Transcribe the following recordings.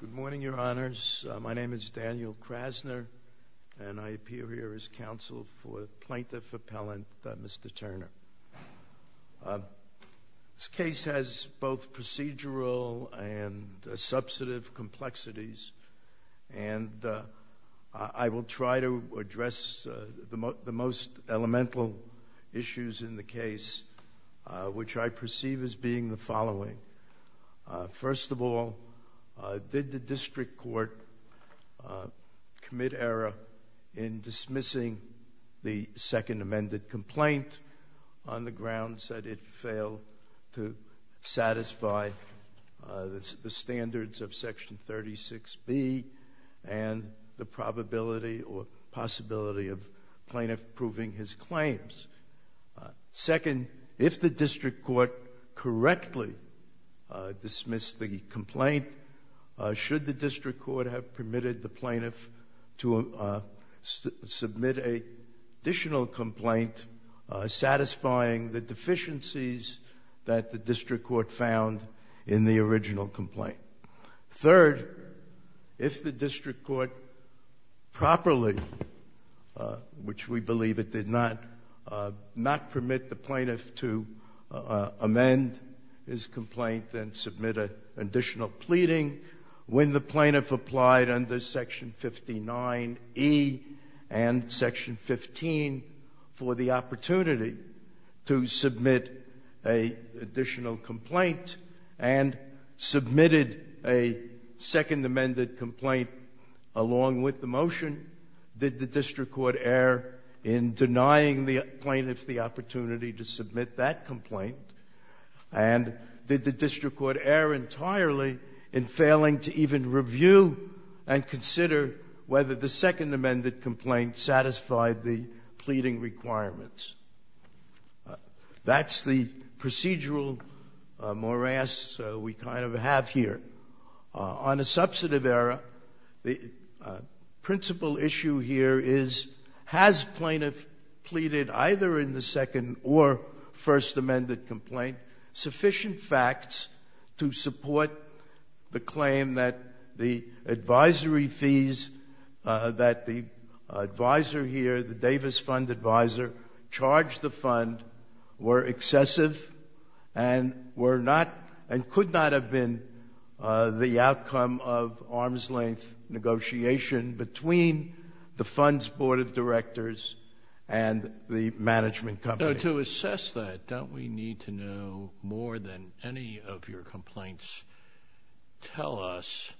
Good morning, Your Honors. My name is Daniel Krasner, and I appear here as counsel for Plaintiff Appellant Mr. Turner. This case has both procedural and substantive complexities, and I will try to address the most elemental issues in the case, which I perceive as being the following. First of all, did the District Court commit error in dismissing the Second Amended Complaint on the grounds that it failed to satisfy the standards of Section 36B and the probability or possibility of plaintiff proving his claims? Second, if the District Court correctly dismissed the complaint, should the District Court have permitted the plaintiff to submit an additional complaint satisfying the deficiencies that the District Court found in the original complaint? Third, if the District Court properly, which we believe it did not, not permit the plaintiff to amend his complaint and submit an additional pleading, when the plaintiff applied under Section 59E and Section 15 for the opportunity to submit an additional complaint and submitted a Second Amended Complaint along with the motion, did the District Court err in denying the plaintiff the opportunity to submit that complaint? And did the District Court err entirely in failing to even review and consider whether the Second Amended Complaint satisfied the pleading requirements? That's the procedural morass we kind of have here. On a substantive error, the principal issue here is, has plaintiff pleaded either in the Second or First Amended Complaint sufficient facts to support the claim that the advisory fees that the advisor here, the Davis Fund advisor, charged the fund were excessive and could not have been the outcome of arm's-length negotiation between the fund's board of directors and the management company? To assess that, don't we need to know more than any of your complaints tell us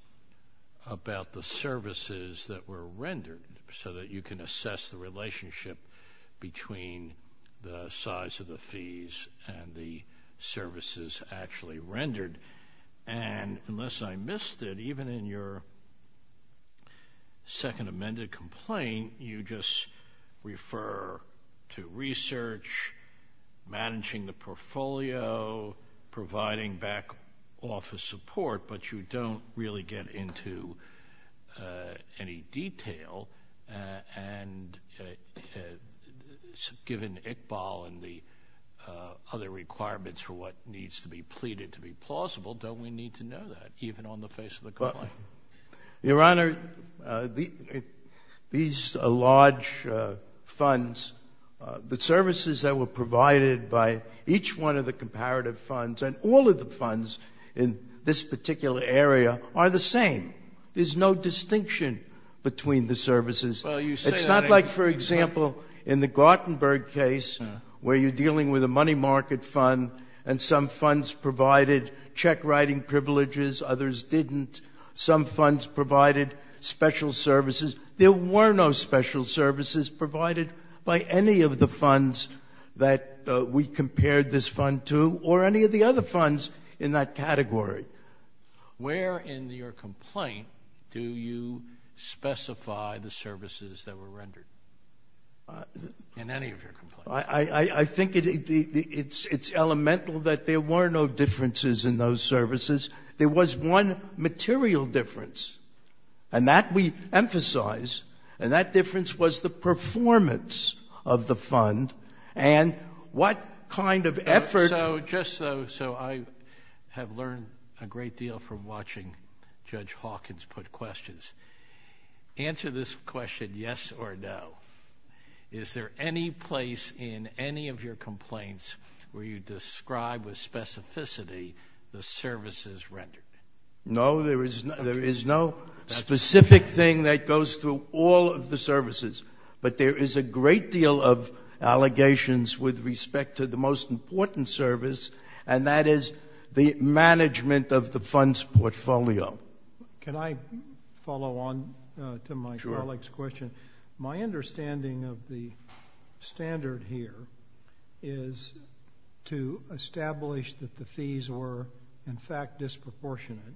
about the services that were rendered so that you can assess the relationship between the size of the fees and the services actually rendered? And unless I missed it, even in your Second Amended Complaint, you just refer to research, managing the portfolio, providing back office support, but you don't really get into any detail. And given Iqbal and the other requirements for what needs to be pleaded to be plausible, don't we need to know that, even on the face of the complaint? Your Honor, these large funds, the services that were provided by each one of the comparative funds and all of the funds in this particular area are the same. There's no distinction between the services. It's not like, for example, in the Gartenberg case where you're dealing with a money market fund and some funds provided check writing privileges, others didn't. Some funds provided special services. There were no special services provided by any of the funds that we compared this fund to or any of the other funds in that category. Where in your complaint do you specify the services that were rendered in any of your complaints? I think it's elemental that there were no differences in those services. There was one material difference, and that we emphasize, and that difference was the performance of the fund and what kind of effort— Just so I have learned a great deal from watching Judge Hawkins put questions, answer this question yes or no. Is there any place in any of your complaints where you describe with specificity the services rendered? No, there is no specific thing that goes through all of the services, but there is a great deal of allegations with respect to the most important service, and that is the management of the fund's portfolio. Can I follow on to my colleague's question? My understanding of the standard here is to establish that the fees were, in fact, disproportionate.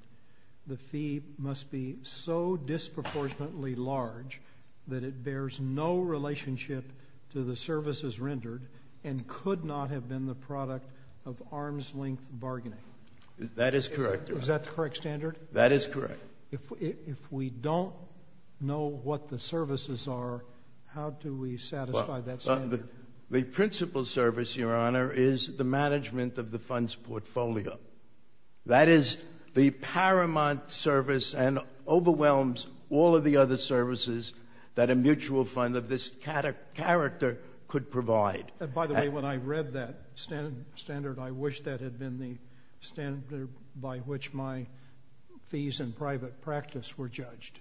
The fee must be so disproportionately large that it bears no relationship to the services rendered and could not have been the product of arm's length bargaining. That is correct. Is that the correct standard? That is correct. If we don't know what the services are, how do we satisfy that standard? The principal service, Your Honor, is the management of the fund's portfolio. That is the paramount service and overwhelms all of the other services that a mutual fund of this character could provide. By the way, when I read that standard, I wish that had been the standard by which my fees in private practice were judged.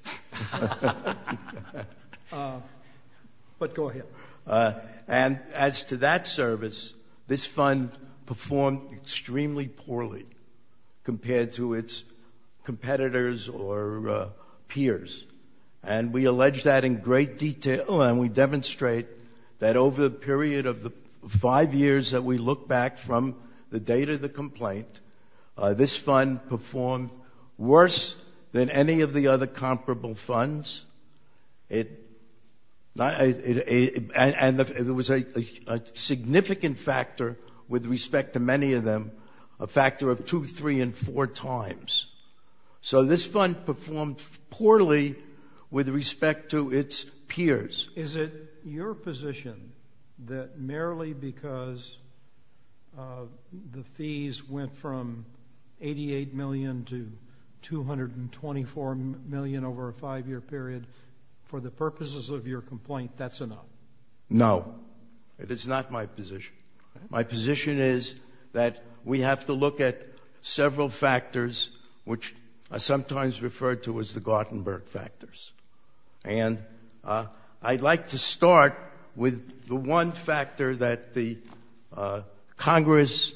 But go ahead. And as to that service, this fund performed extremely poorly compared to its competitors or peers, and we allege that in great detail and we demonstrate that over the period of the five years that we look back from the date of the complaint, this fund performed worse than any of the other comparable funds. And there was a significant factor with respect to many of them, a factor of two, three, and four times. So this fund performed poorly with respect to its peers. Is it your position that merely because the fees went from $88 million to $224 million over a five-year period, for the purposes of your complaint, that's enough? No. It is not my position. My position is that we have to look at several factors which are sometimes referred to as the Gartenberg factors. And I'd like to start with the one factor that the Congress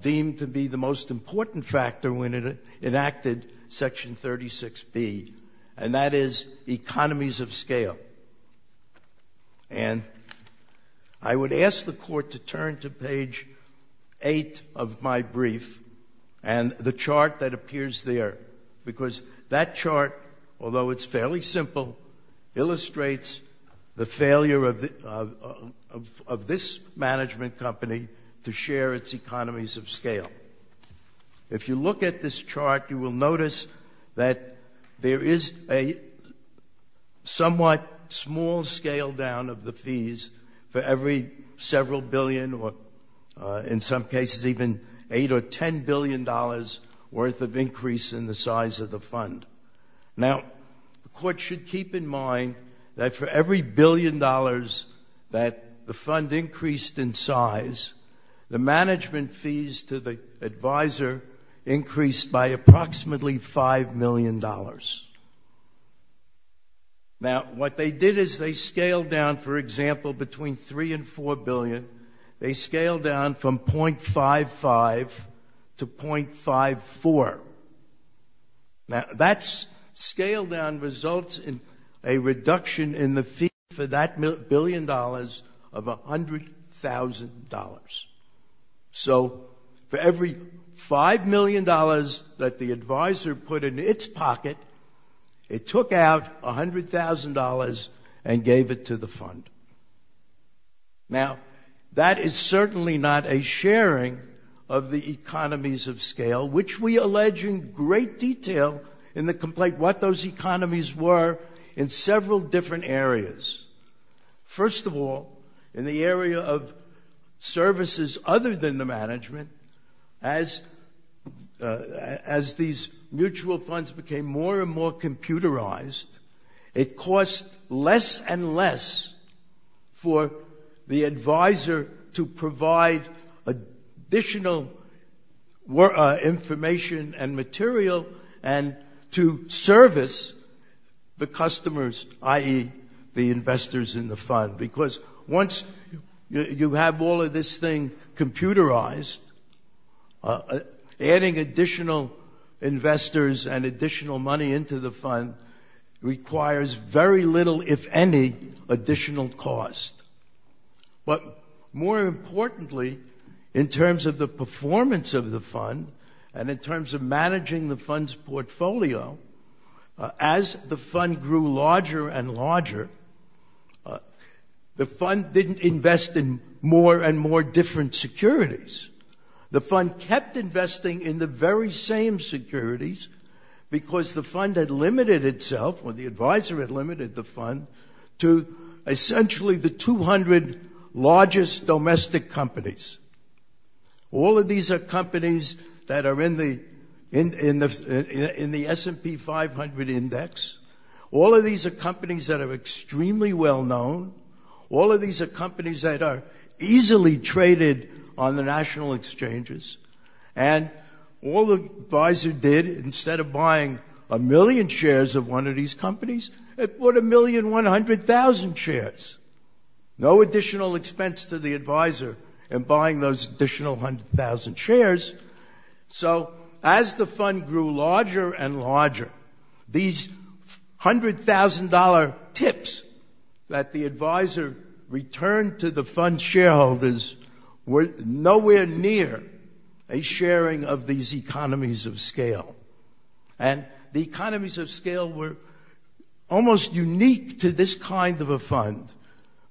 deemed to be the most important factor when it enacted Section 36B, and that is economies of scale. And I would ask the Court to turn to page 8 of my brief and the chart that appears there, because that chart, although it's fairly simple, illustrates the failure of this management company to share its economies of scale. If you look at this chart, you will notice that there is a somewhat small scale down of the fees for every several billion or, in some cases, even $8 or $10 billion worth of increase in the size of the fund. Now, the Court should keep in mind that for every billion dollars that the fund increased in size, the management fees to the advisor increased by approximately $5 million. Now, what they did is they scaled down, for example, between $3 and $4 billion. They scaled down from .55 to .54. Now, that scale down results in a reduction in the fee for that billion dollars of $100,000. So, for every $5 million that the advisor put in its pocket, it took out $100,000 and gave it to the fund. Now, that is certainly not a sharing of the economies of scale, which we allege in great detail in the complaint what those economies were in several different areas. First of all, in the area of services other than the management, as these mutual funds became more and more computerized, it cost less and less for the advisor to provide additional information and material and to service the customers, i.e., the investors in the fund. Because once you have all of this thing computerized, adding additional investors and additional money into the fund requires very little, if any, additional cost. But more importantly, in terms of the performance of the fund and in terms of managing the fund's portfolio, as the fund grew larger and larger, the fund didn't invest in more and more different securities. The fund kept investing in the very same securities because the fund had limited itself, or the advisor had limited the fund, to essentially the 200 largest domestic companies. All of these are companies that are in the S&P 500 Index. All of these are companies that are extremely well known. All of these are companies that are easily traded on the national exchanges. And all the advisor did, instead of buying a million shares of one of these companies, it bought 1,100,000 shares. No additional expense to the advisor in buying those additional 100,000 shares. So as the fund grew larger and larger, these $100,000 tips that the advisor returned to the fund's shareholders were nowhere near a sharing of these economies of scale. And the economies of scale were almost unique to this kind of a fund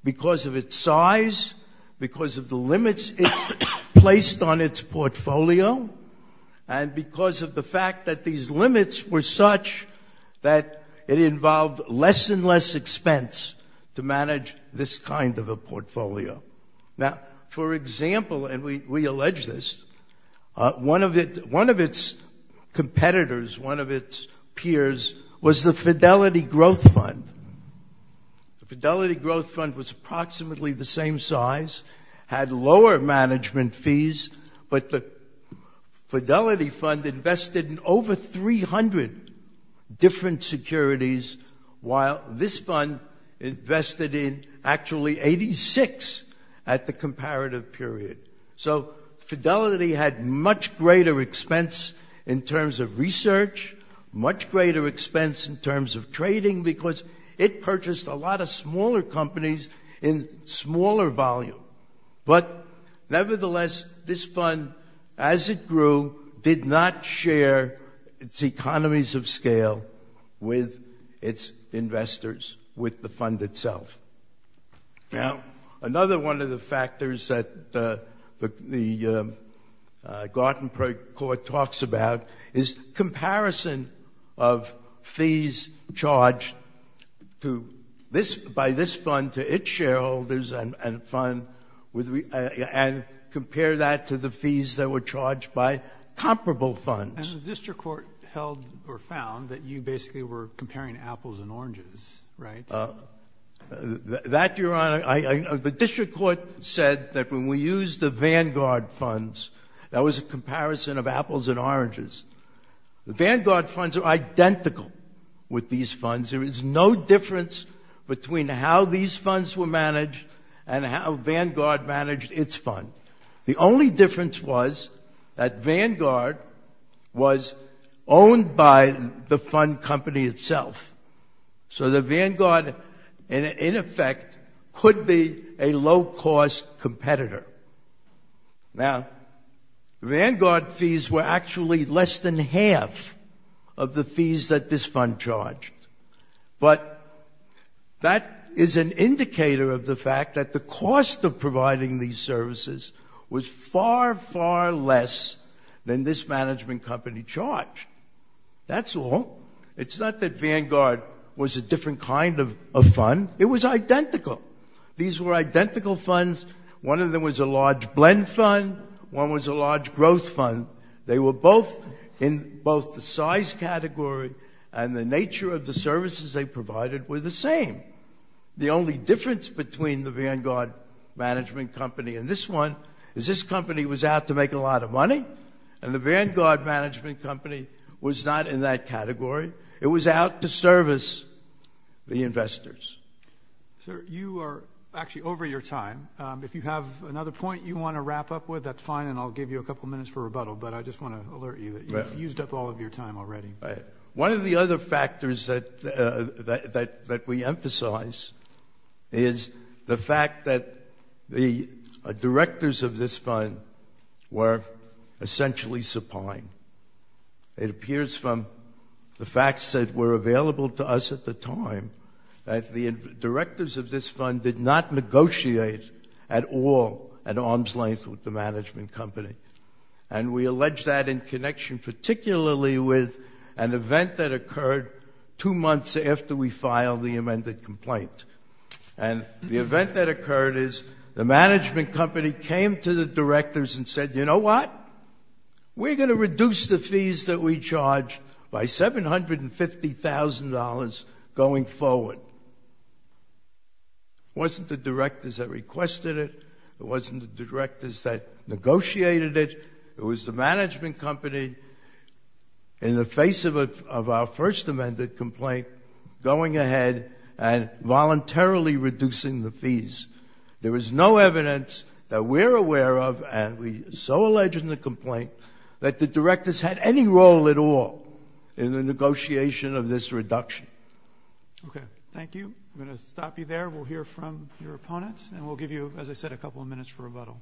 because of its size, because of the limits it placed on its portfolio, and because of the fact that these limits were such that it involved less and less expense to manage this kind of a portfolio. Now, for example, and we allege this, one of its competitors, one of its peers, was the Fidelity Growth Fund. The Fidelity Growth Fund was approximately the same size, had lower management fees, but the Fidelity Fund invested in over 300 different securities, while this fund invested in actually 86 at the comparative period. So Fidelity had much greater expense in terms of research, much greater expense in terms of trading, because it purchased a lot of smaller companies in smaller volume. But nevertheless, this fund, as it grew, did not share its economies of scale with its investors, with the fund itself. Now, another one of the factors that the Gartenberg Court talks about is comparison of fees charged by this fund to its shareholders and compare that to the fees that were charged by comparable funds. And the district court held or found that you basically were comparing apples and oranges, right? That, Your Honor, the district court said that when we used the Vanguard funds, that was a comparison of apples and oranges. The Vanguard funds are identical with these funds. There is no difference between how these funds were managed and how Vanguard managed its fund. The only difference was that Vanguard was owned by the fund company itself. So the Vanguard, in effect, could be a low-cost competitor. Now, the Vanguard fees were actually less than half of the fees that this fund charged. But that is an indicator of the fact that the cost of providing these services was far, far less than this management company charged. That's all. It's not that Vanguard was a different kind of fund. It was identical. These were identical funds. One of them was a large blend fund. One was a large growth fund. They were both in both the size category and the nature of the services they provided were the same. The only difference between the Vanguard management company and this one is this company was out to make a lot of money. And the Vanguard management company was not in that category. It was out to service the investors. Sir, you are actually over your time. If you have another point you want to wrap up with, that's fine, and I'll give you a couple minutes for rebuttal. But I just want to alert you that you've used up all of your time already. One of the other factors that we emphasize is the fact that the directors of this fund were essentially supine. It appears from the facts that were available to us at the time that the directors of this fund did not negotiate at all at arm's length with the management company. And we allege that in connection particularly with an event that occurred two months after we filed the amended complaint. And the event that occurred is the management company came to the directors and said, you know what, we're going to reduce the fees that we charge by $750,000 going forward. It wasn't the directors that requested it. It wasn't the directors that negotiated it. It was the management company in the face of our first amended complaint going ahead and voluntarily reducing the fees. There is no evidence that we're aware of, and we so allege in the complaint, that the directors had any role at all in the negotiation of this reduction. Okay. Thank you. I'm going to stop you there. We'll hear from your opponents, and we'll give you, as I said, a couple of minutes for rebuttal.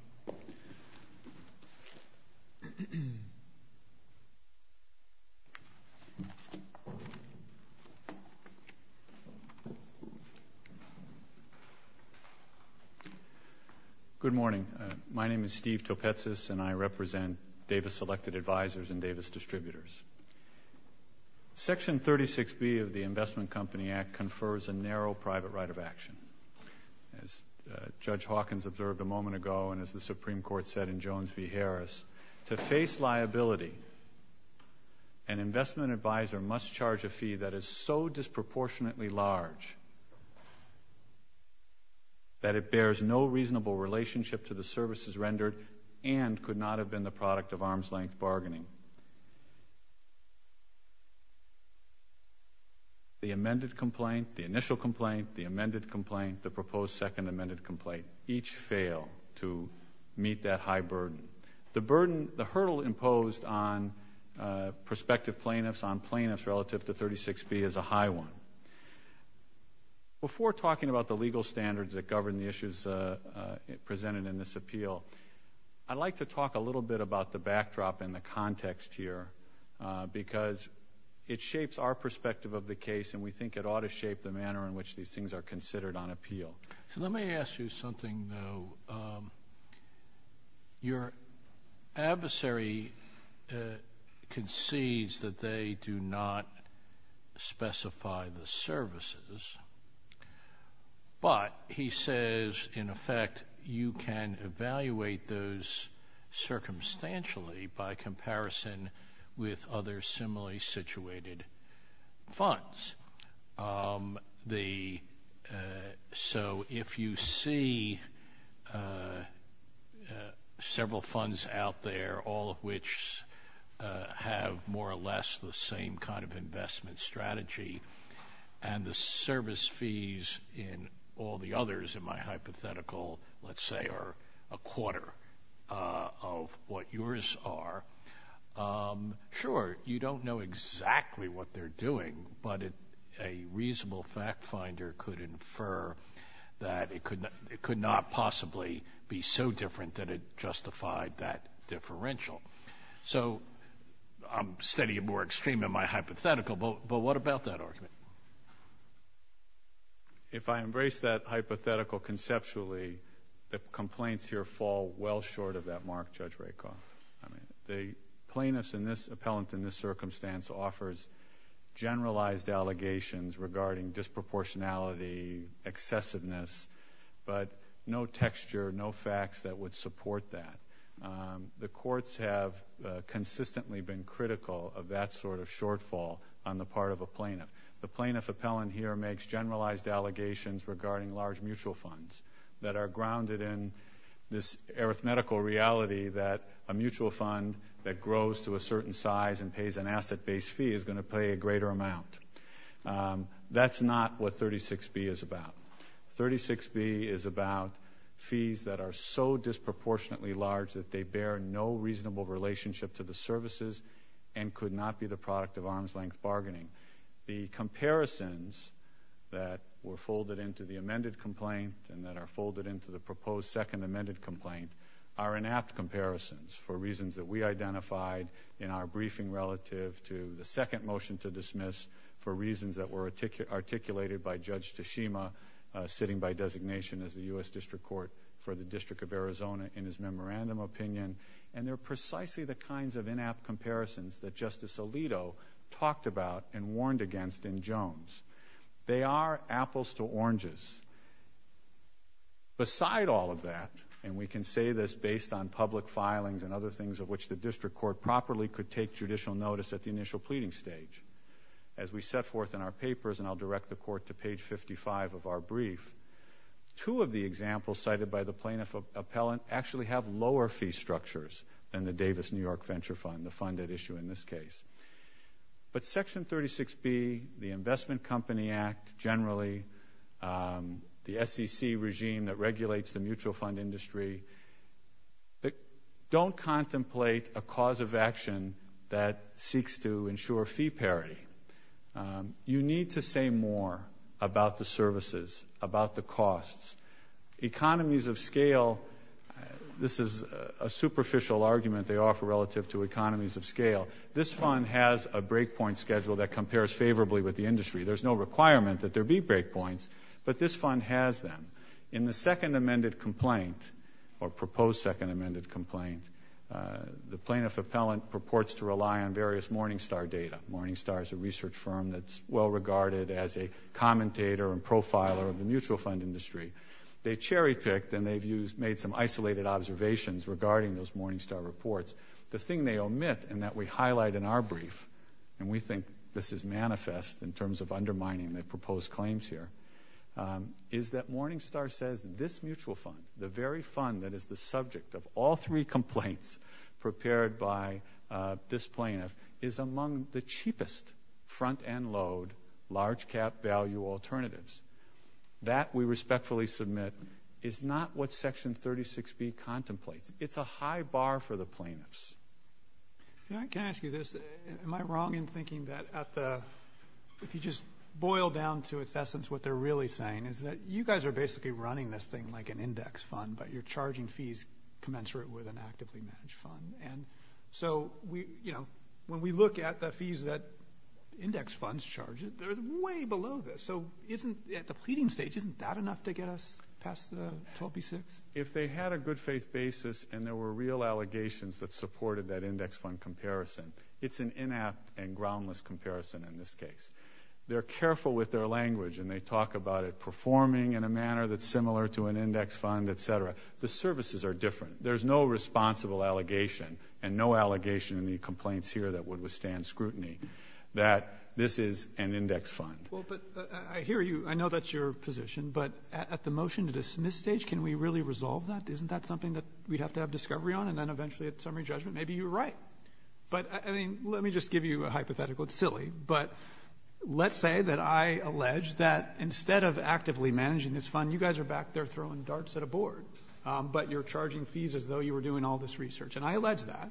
Good morning. My name is Steve Topetsis, and I represent Davis Selected Advisors and Davis Distributors. Section 36B of the Investment Company Act confers a narrow private right of action. As Judge Hawkins observed a moment ago, and as the Supreme Court said in Jones v. Harris, to face liability, an investment advisor must charge a fee that is so disproportionately large that it bears no reasonable relationship to the services rendered and could not have been the product of arm's-length bargaining. The amended complaint, the initial complaint, the amended complaint, the proposed second amended complaint, each fail to meet that high burden. The hurdle imposed on prospective plaintiffs, on plaintiffs relative to 36B, is a high one. Before talking about the legal standards that govern the issues presented in this appeal, I'd like to talk a little bit about the backdrop and the context here, because it shapes our perspective of the case, and we think it ought to shape the manner in which these things are considered on appeal. So let me ask you something, though. Your adversary concedes that they do not specify the services, but he says, in effect, you can evaluate those circumstantially by comparison with other similarly situated funds. So if you see several funds out there, all of which have more or less the same kind of investment strategy, and the service fees in all the others in my hypothetical, let's say, are a quarter of what yours are, sure, you don't know exactly what they're doing, but a reasonable fact finder could infer that it could not possibly be so different that it justified that differential. So I'm studying more extreme in my hypothetical, but what about that argument? If I embrace that hypothetical conceptually, the complaints here fall well short of that mark, Judge Rakoff. The plaintiff's appellant in this circumstance offers generalized allegations regarding disproportionality, excessiveness, but no texture, no facts that would support that. The courts have consistently been critical of that sort of shortfall on the part of a plaintiff. The plaintiff appellant here makes generalized allegations regarding large mutual funds that are grounded in this arithmetical reality that a mutual fund that grows to a certain size and pays an asset-based fee is going to pay a greater amount. That's not what 36B is about. 36B is about fees that are so disproportionately large that they bear no reasonable relationship to the services and could not be the product of arm's-length bargaining. The comparisons that were folded into the amended complaint and that are folded into the proposed second amended complaint are inapt comparisons for reasons that we identified in our briefing relative to the second motion to dismiss for reasons that were articulated by Judge Tashima sitting by designation as the U.S. District Court for the District of Arizona in his memorandum opinion, and they're precisely the kinds of inapt comparisons that Justice Alito talked about and warned against in Jones. They are apples to oranges. Beside all of that, and we can say this based on public filings and other things of which the district court properly could take judicial notice at the initial pleading stage, as we set forth in our papers, and I'll direct the court to page 55 of our brief, two of the examples cited by the plaintiff appellant actually have lower fee structures than the Davis New York Venture Fund, the fund at issue in this case. But Section 36B, the Investment Company Act generally, the SEC regime that regulates the mutual fund industry, don't contemplate a cause of action that seeks to ensure fee parity. You need to say more about the services, about the costs. Economies of scale, this is a superficial argument they offer relative to economies of scale. This fund has a breakpoint schedule that compares favorably with the industry. There's no requirement that there be breakpoints, but this fund has them. In the second amended complaint, or proposed second amended complaint, the plaintiff appellant purports to rely on various Morningstar data. Morningstar is a research firm that's well regarded as a commentator and profiler of the mutual fund industry. They cherry-picked and they've made some isolated observations regarding those Morningstar reports. The thing they omit, and that we highlight in our brief, and we think this is manifest in terms of undermining the proposed claims here, is that Morningstar says this mutual fund, the very fund that is the subject of all three complaints prepared by this plaintiff, is among the cheapest front-end load, large-cap value alternatives. That, we respectfully submit, is not what Section 36B contemplates. It's a high bar for the plaintiffs. Can I ask you this? Am I wrong in thinking that at the, if you just boil down to its essence, what they're really saying is that you guys are basically running this thing like an index fund, but you're charging fees commensurate with an actively managed fund. So, when we look at the fees that index funds charge, they're way below this. So, at the pleading stage, isn't that enough to get us past the 12B6? If they had a good faith basis, and there were real allegations that supported that index fund comparison, it's an inapt and groundless comparison in this case. They're careful with their language, and they talk about it performing in a manner that's similar to an index fund, etc. The services are different. There's no responsible allegation, and no allegation in the complaints here that would withstand scrutiny, that this is an index fund. Well, but I hear you. I know that's your position, but at the motion to dismiss stage, can we really resolve that? Isn't that something that we'd have to have discovery on, and then eventually at summary judgment, maybe you're right. But, I mean, let me just give you a hypothetical. It's silly, but let's say that I allege that instead of actively managing this fund, you guys are back there throwing darts at a board, but you're charging fees as though you were doing all this research. And I allege that.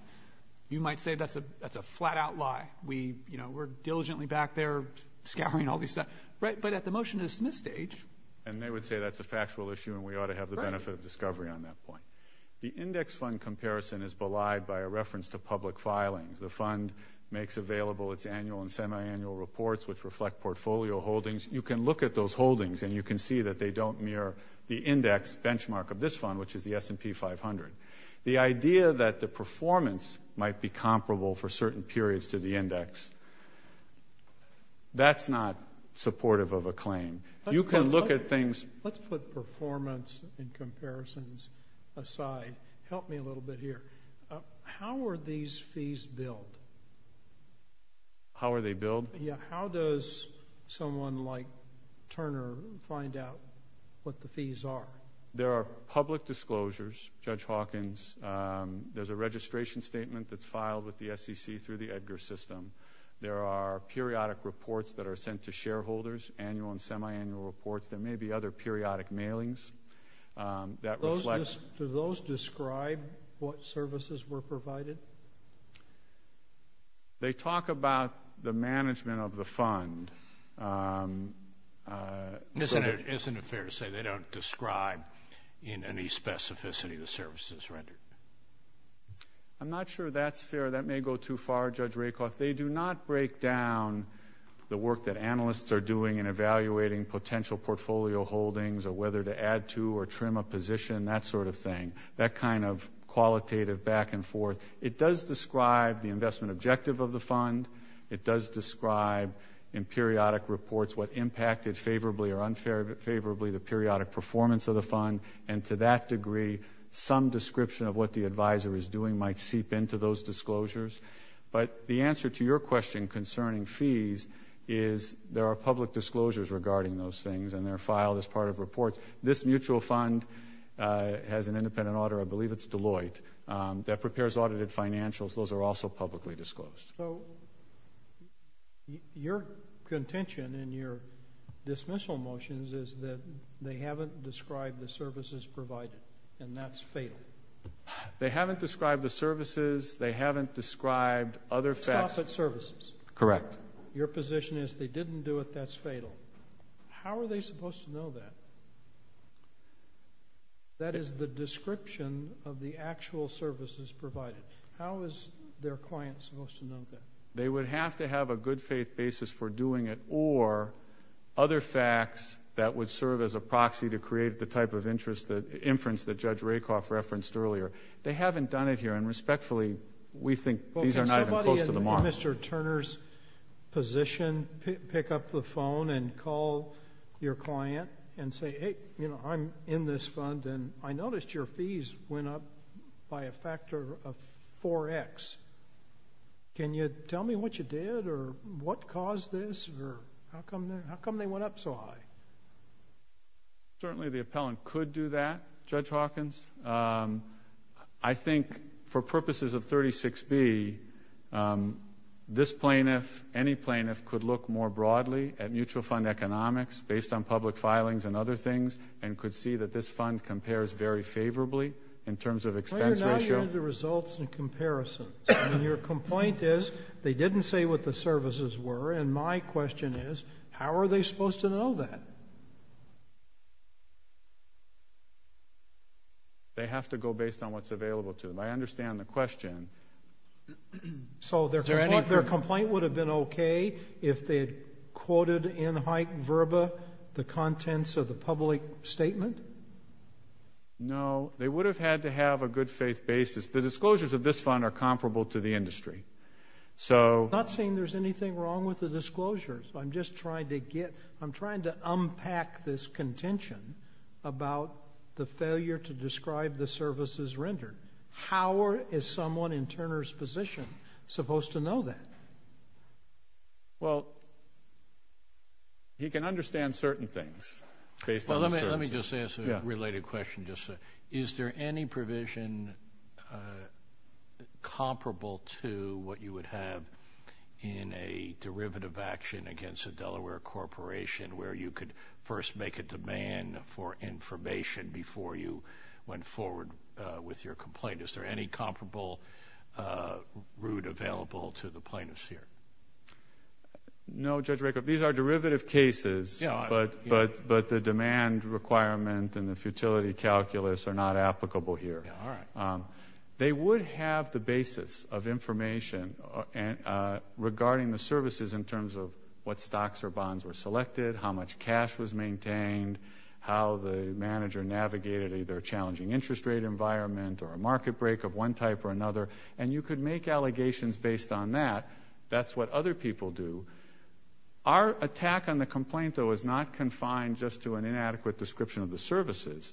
You might say that's a flat-out lie. We're diligently back there scouring all this stuff, but at the motion to dismiss stage. And they would say that's a factual issue, and we ought to have the benefit of discovery on that point. The index fund comparison is belied by a reference to public filings. The fund makes available its annual and semi-annual reports, which reflect portfolio holdings. You can look at those holdings, and you can see that they don't mirror the index benchmark of this fund, which is the S&P 500. The idea that the performance might be comparable for certain periods to the index, that's not supportive of a claim. You can look at things... Let's put performance and comparisons aside. Help me a little bit here. How are these fees billed? How are they billed? Yeah, how does someone like Turner find out what the fees are? There are public disclosures, Judge Hawkins. There's a registration statement that's filed with the SEC through the EDGAR system. There are periodic reports that are sent to shareholders, annual and semi-annual reports. There may be other periodic mailings that reflect... Do those describe what services were provided? They talk about the management of the fund. Isn't it fair to say they don't describe in any specificity the services rendered? I'm not sure that's fair. That may go too far, Judge Rakoff. They do not break down the work that analysts are doing in evaluating potential portfolio holdings, or whether to add to or trim a position, that sort of thing. That kind of qualitative back and forth. It does describe the investment objective of the fund. It does describe in periodic reports what impacted favorably or unfavorably the periodic performance of the fund. And to that degree, some description of what the advisor is doing might seep into those disclosures. But the answer to your question concerning fees is there are public disclosures regarding those things, and they're filed as part of reports. This mutual fund has an independent auditor, I believe it's Deloitte, that prepares audited financials. Those are also publicly disclosed. Your contention in your dismissal motions is that they haven't described the services provided, and that's fatal. They haven't described the services. They haven't described other facts. Stop at services. Correct. Your position is they didn't do it, that's fatal. How are they supposed to know that? That is the description of the actual services provided. How is their client supposed to know that? They would have to have a good faith basis for doing it, or other facts that would serve as a proxy to create the type of inference that Judge Rakoff referenced earlier. They haven't done it here, and respectfully, we think these are not even close to the mark. Can somebody in Mr. Turner's position pick up the phone and call your client and say, hey, I'm in this fund, and I noticed your fees went up by a factor of 4X. Can you tell me what you did, or what caused this, or how come they went up so high? Certainly the appellant could do that, Judge Hawkins. I think for purposes of 36B, this plaintiff, any plaintiff, could look more broadly at mutual fund economics based on public filings and other things, and could see that this fund compares very favorably in terms of expense ratio. I'm talking about the results and comparisons. Your complaint is, they didn't say what the services were, and my question is, how are they supposed to know that? They have to go based on what's available to them. I understand the question. So their complaint would have been okay if they had quoted in hype verba the contents of the public statement? No, they would have had to have a good faith basis. The disclosures of this fund are comparable to the industry. I'm not saying there's anything wrong with the disclosures. I'm just trying to get, I'm trying to unpack this contention about the failure to describe the services rendered. How is someone in Turner's position supposed to know that? This is a related question. Is there any provision comparable to what you would have in a derivative action against a Delaware corporation where you could first make a demand for information before you went forward with your complaint? Is there any comparable route available to the plaintiffs here? No, Judge Rakoff. These are derivative cases, but the demand requirement and the futility calculus are not applicable here. They would have the basis of information regarding the services in terms of what stocks or bonds were selected, how much cash was maintained, how the manager navigated either a challenging interest rate environment or a market break of one type or another, and you could make allegations based on that. That's what other people do. Our attack on the complaint, though, is not confined just to an inadequate description of the services.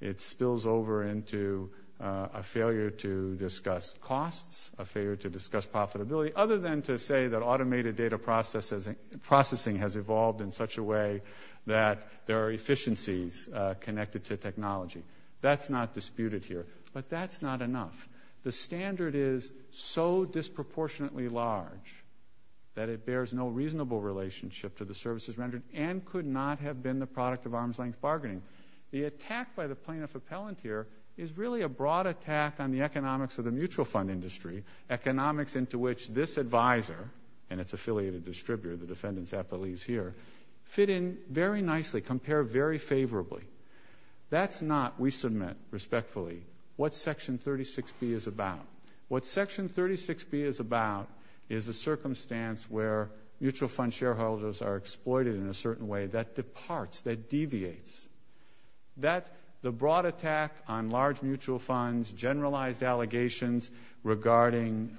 It spills over into a failure to discuss costs, a failure to discuss profitability, other than to say that automated data processing has evolved in such a way that there are efficiencies connected to technology. That's not disputed here, but that's not enough. The standard is so disproportionately large that it bears no reasonable relationship to the services rendered and could not have been the product of arm's-length bargaining. The attack by the plaintiff appellant here is really a broad attack on the economics of the mutual fund industry, economics into which this advisor and its affiliated distributor, the defendant's appellees here, fit in very nicely, compare very favorably. That's not, we submit respectfully, what Section 36B is about. What Section 36B is about is a circumstance where mutual fund shareholders are exploited in a certain way that departs, that deviates. The broad attack on large mutual funds, generalized allegations regarding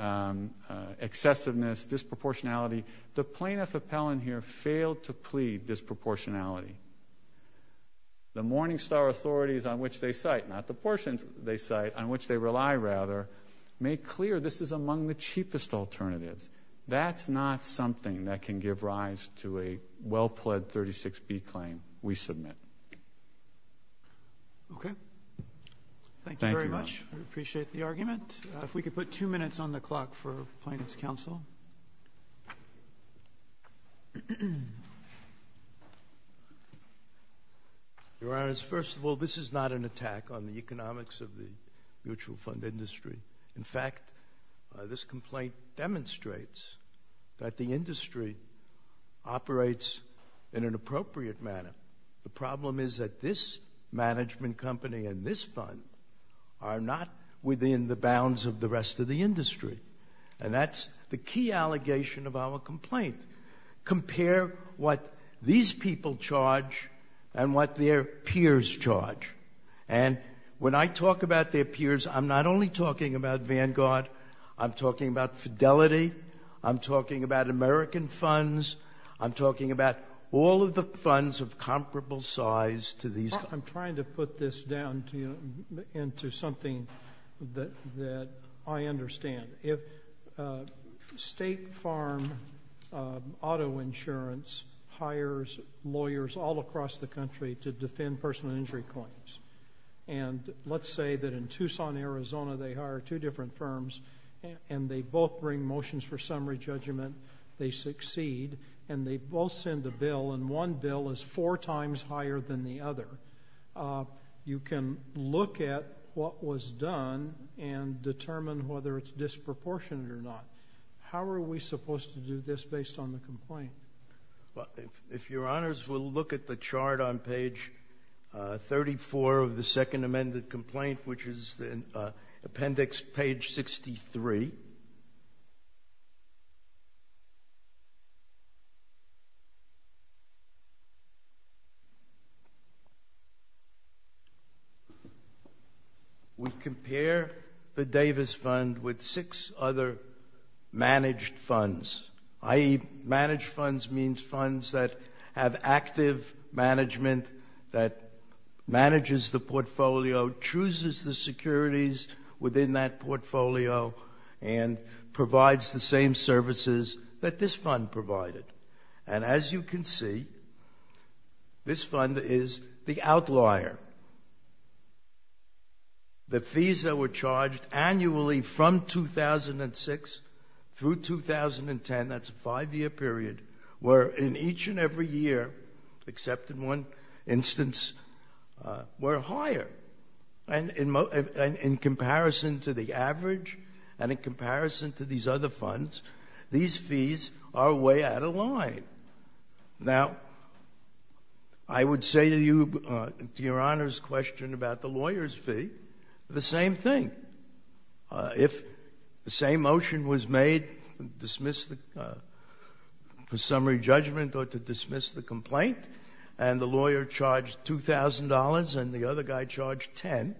excessiveness, disproportionality, the plaintiff appellant here failed to plead disproportionality. The Morningstar authorities on which they cite, not the portions they cite, on which they rely rather, make clear this is among the cheapest alternatives. That's not something that can give rise to a well-pledged 36B claim we submit. Okay. Thank you very much. I appreciate the argument. If we could put two minutes on the clock for Plaintiff's Counsel. Your Honors, first of all, this is not an attack on the economics of the mutual fund industry. In fact, this complaint demonstrates that the industry operates in an appropriate manner. The problem is that this management company and this fund are not within the bounds of the rest of the industry. And that's the key allegation of our complaint. Compare what these people charge and what their peers charge. And when I talk about their peers, I'm not only talking about Vanguard. I'm talking about Fidelity. I'm talking about American funds. I'm talking about all of the funds of comparable size to these. I'm trying to put this down into something that I understand. State farm auto insurance hires lawyers all across the country to defend personal injury claims. And let's say that in Tucson, Arizona, they hire two different firms. And they both bring motions for summary judgment. They succeed. And they both send a bill. And one bill is four times higher than the other. You can look at what was done and determine whether it's disproportionate or not. How are we supposed to do this based on the complaint? If your honors will look at the chart on page 34 of the second amended complaint, which is appendix page 63. We compare the Davis Fund with six other managed funds. I.e., managed funds means funds that have active management that manages the portfolio, chooses the securities within that portfolio, and provides the same services that this fund provided. And as you can see, this fund is the outlier. The fees that were charged annually from 2006 through 2010, that's a five-year period, were in each and every year, except in one instance, were higher. And in comparison to the average and in comparison to these other funds, these fees are way out of line. Now, I would say to you, to your honors' question about the lawyer's fee, the same thing. If the same motion was made to dismiss the summary judgment or to dismiss the complaint, and the lawyer charged $2,000 and the other guy charged $10,000,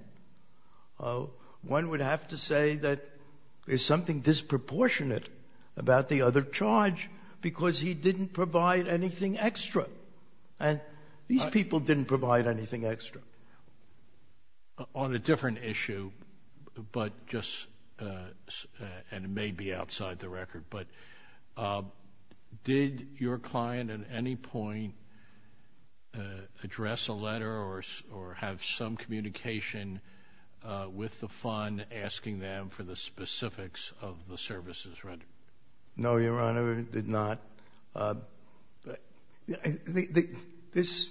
one would have to say that there's something disproportionate about the other charge because he didn't provide anything extra. And these people didn't provide anything extra. On a different issue, but just, and it may be outside the record, but did your client at any point address a letter or have some communication with the fund asking them for the specifics of the services rendered? No, Your Honor, did not. This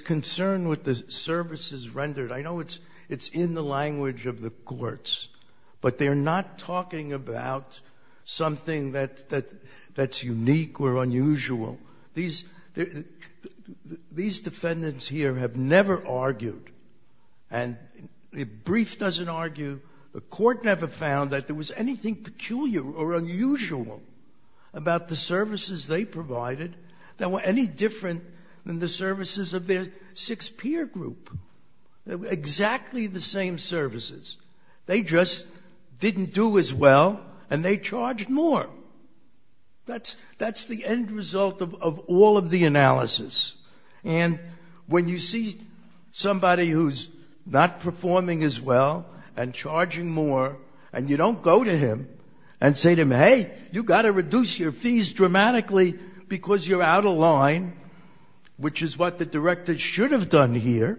concern with the services rendered, I know it's in the language of the courts, but they're not talking about something that's unique or unusual. These defendants here have never argued, and the brief doesn't argue, the court never found that there was anything peculiar or unusual about the services they provided that were any different than the services of their six-peer group. They were exactly the same services. They just didn't do as well and they charged more. That's the end result of all of the analysis. And when you see somebody who's not performing as well and charging more and you don't go to him and say to him, hey, you've got to reduce your fees dramatically because you're out of line, which is what the director should have done here,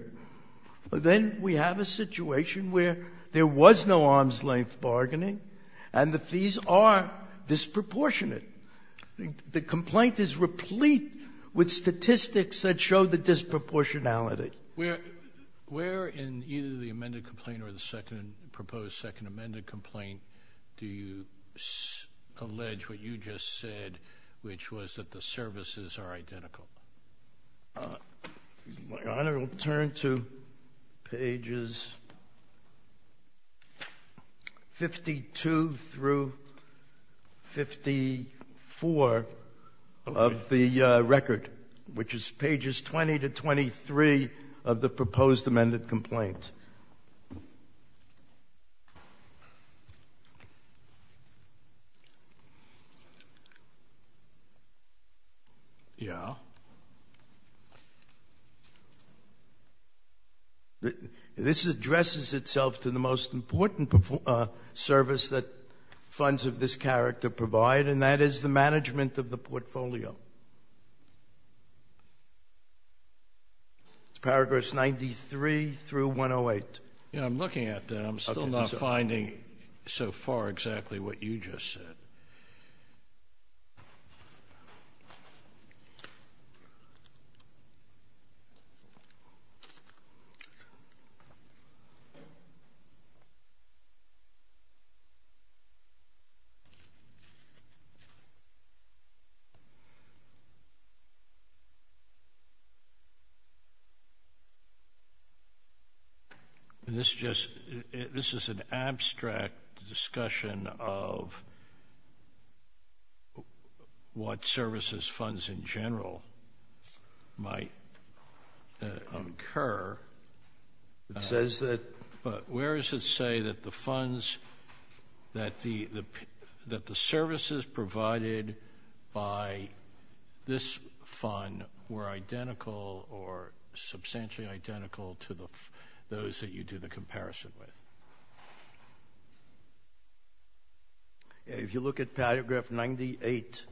then we have a situation where there was no arm's-length bargaining and the fees are disproportionate. The complaint is replete with statistics that show the disproportionality. Where in either the amended complaint or the proposed second amended complaint do you allege what you just said, which was that the services are identical? My Honor, we'll turn to pages 52 through 54 of the record, which is pages 20 to 23 of the proposed amended complaint. This addresses itself to the most important service that funds of this character provide, and that is the management of the portfolio. I'm looking at that. I'm still not finding so far exactly what you just said. This is an abstract discussion of what services funds in general might incur. It says that... Where does it say that the services provided by this fund were identical or substantially identical to those that you do the comparison with? If you look at paragraph 98,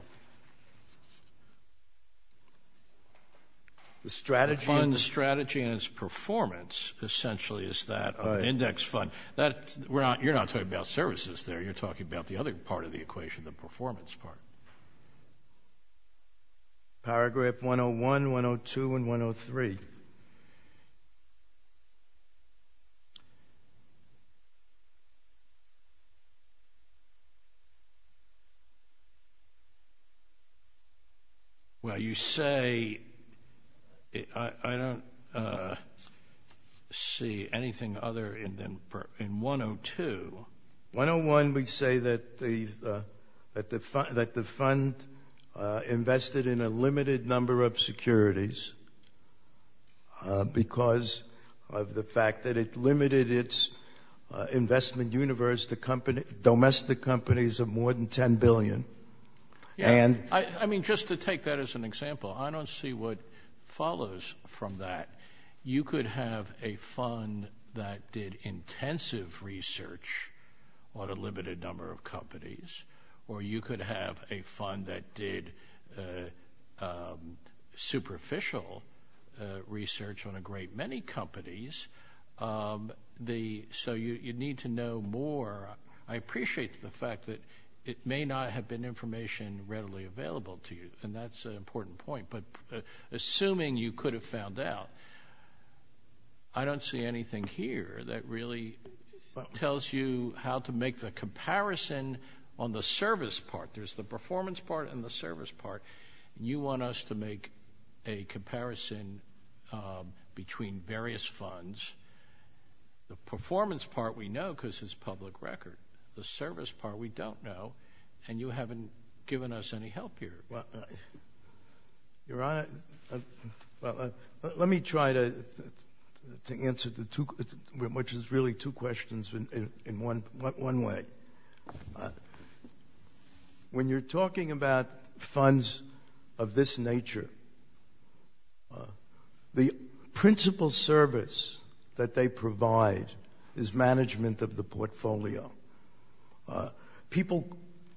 the strategy and its performance essentially is that of an index fund. You're not talking about services there. You're talking about the other part of the equation, the performance part. Paragraph 101, 102, and 103. Well, you say... I don't see anything other than 102. 101, we say that the fund invested in a limited number of securities because of the fact that it limited its investment universe to domestic companies of more than $10 billion. Just to take that as an example, I don't see what follows from that. You could have a fund that did intensive research on a limited number of companies, or you could have a fund that did superficial research on a great many companies. You need to know more. I appreciate the fact that it may not have been information readily available to you, and that's an important point. Assuming you could have found out, I don't see anything here that really tells you how to make the comparison on the service part. There's the performance part and the service part. You want us to make a comparison between various funds. The performance part we know because it's public record. The service part we don't know, and you haven't given us any help here. Your Honor, let me try to answer, which is really two questions in one way. When you're talking about funds of this nature, the principal service that they provide is management of the portfolio.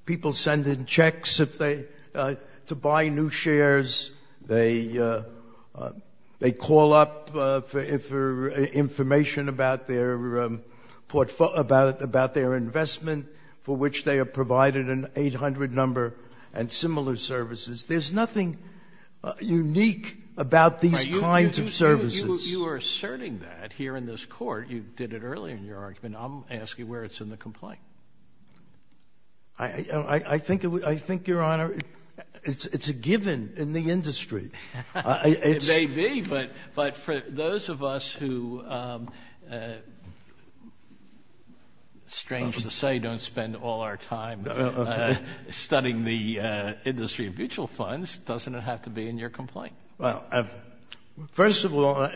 People send in checks to buy new shares. They call up for information about their investment, for which they are provided an 800 number and similar services. There's nothing unique about these kinds of services. You are asserting that here in this Court. You did it earlier in your argument. Does it have to be in your complaint? I think, Your Honor, it's a given in the industry. It may be, but for those of us who, strange to say, don't spend all our time studying the industry of mutual funds, doesn't it have to be in your complaint? First of all,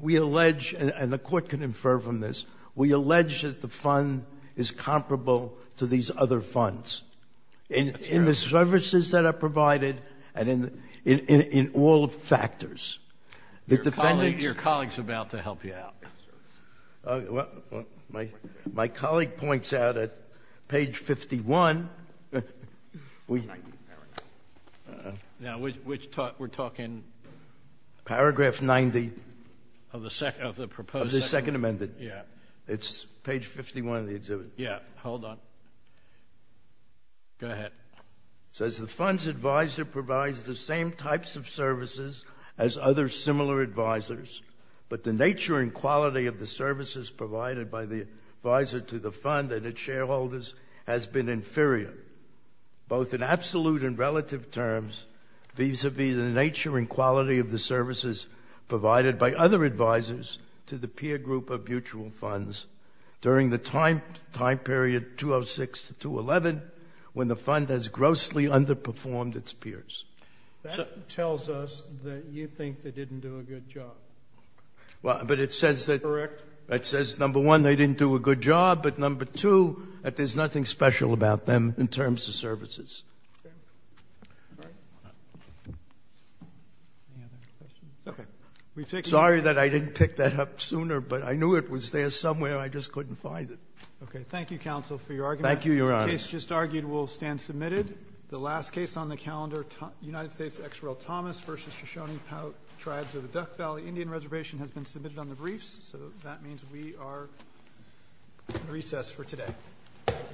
we allege, and the Court can infer from this, we allege that the fund is comparable to these other funds in the services that are provided and in all factors. Your colleague is about to help you out. My colleague points out at page 51. Now, which talk we're talking? Paragraph 90. Of the proposed? Of the Second Amendment. It's page 51 of the exhibit. Yeah, hold on. Go ahead. It says, the fund's advisor provides the same types of services as other similar advisors, but the nature and quality of the services provided by the advisor to the fund and its shareholders has been inferior, both in absolute and relative terms, vis-à-vis the nature and quality of the services provided by other advisors to the peer group of mutual funds during the time period 206 to 211 when the fund has grossly underperformed its peers. That tells us that you think they didn't do a good job. But it says that, number one, they didn't do a good job, but number two, that there's nothing special about them in terms of services. Okay. All right. Any other questions? Okay. Sorry that I didn't pick that up sooner, but I knew it was there somewhere. I just couldn't find it. Okay. Thank you, counsel, for your argument. Thank you, Your Honor. The case just argued will stand submitted. The last case on the calendar, United States XRL Thomas v. Shoshone Tribes of the Duck Valley Indian Reservation has been submitted on the briefs, so that means we are at recess for today. Thank you.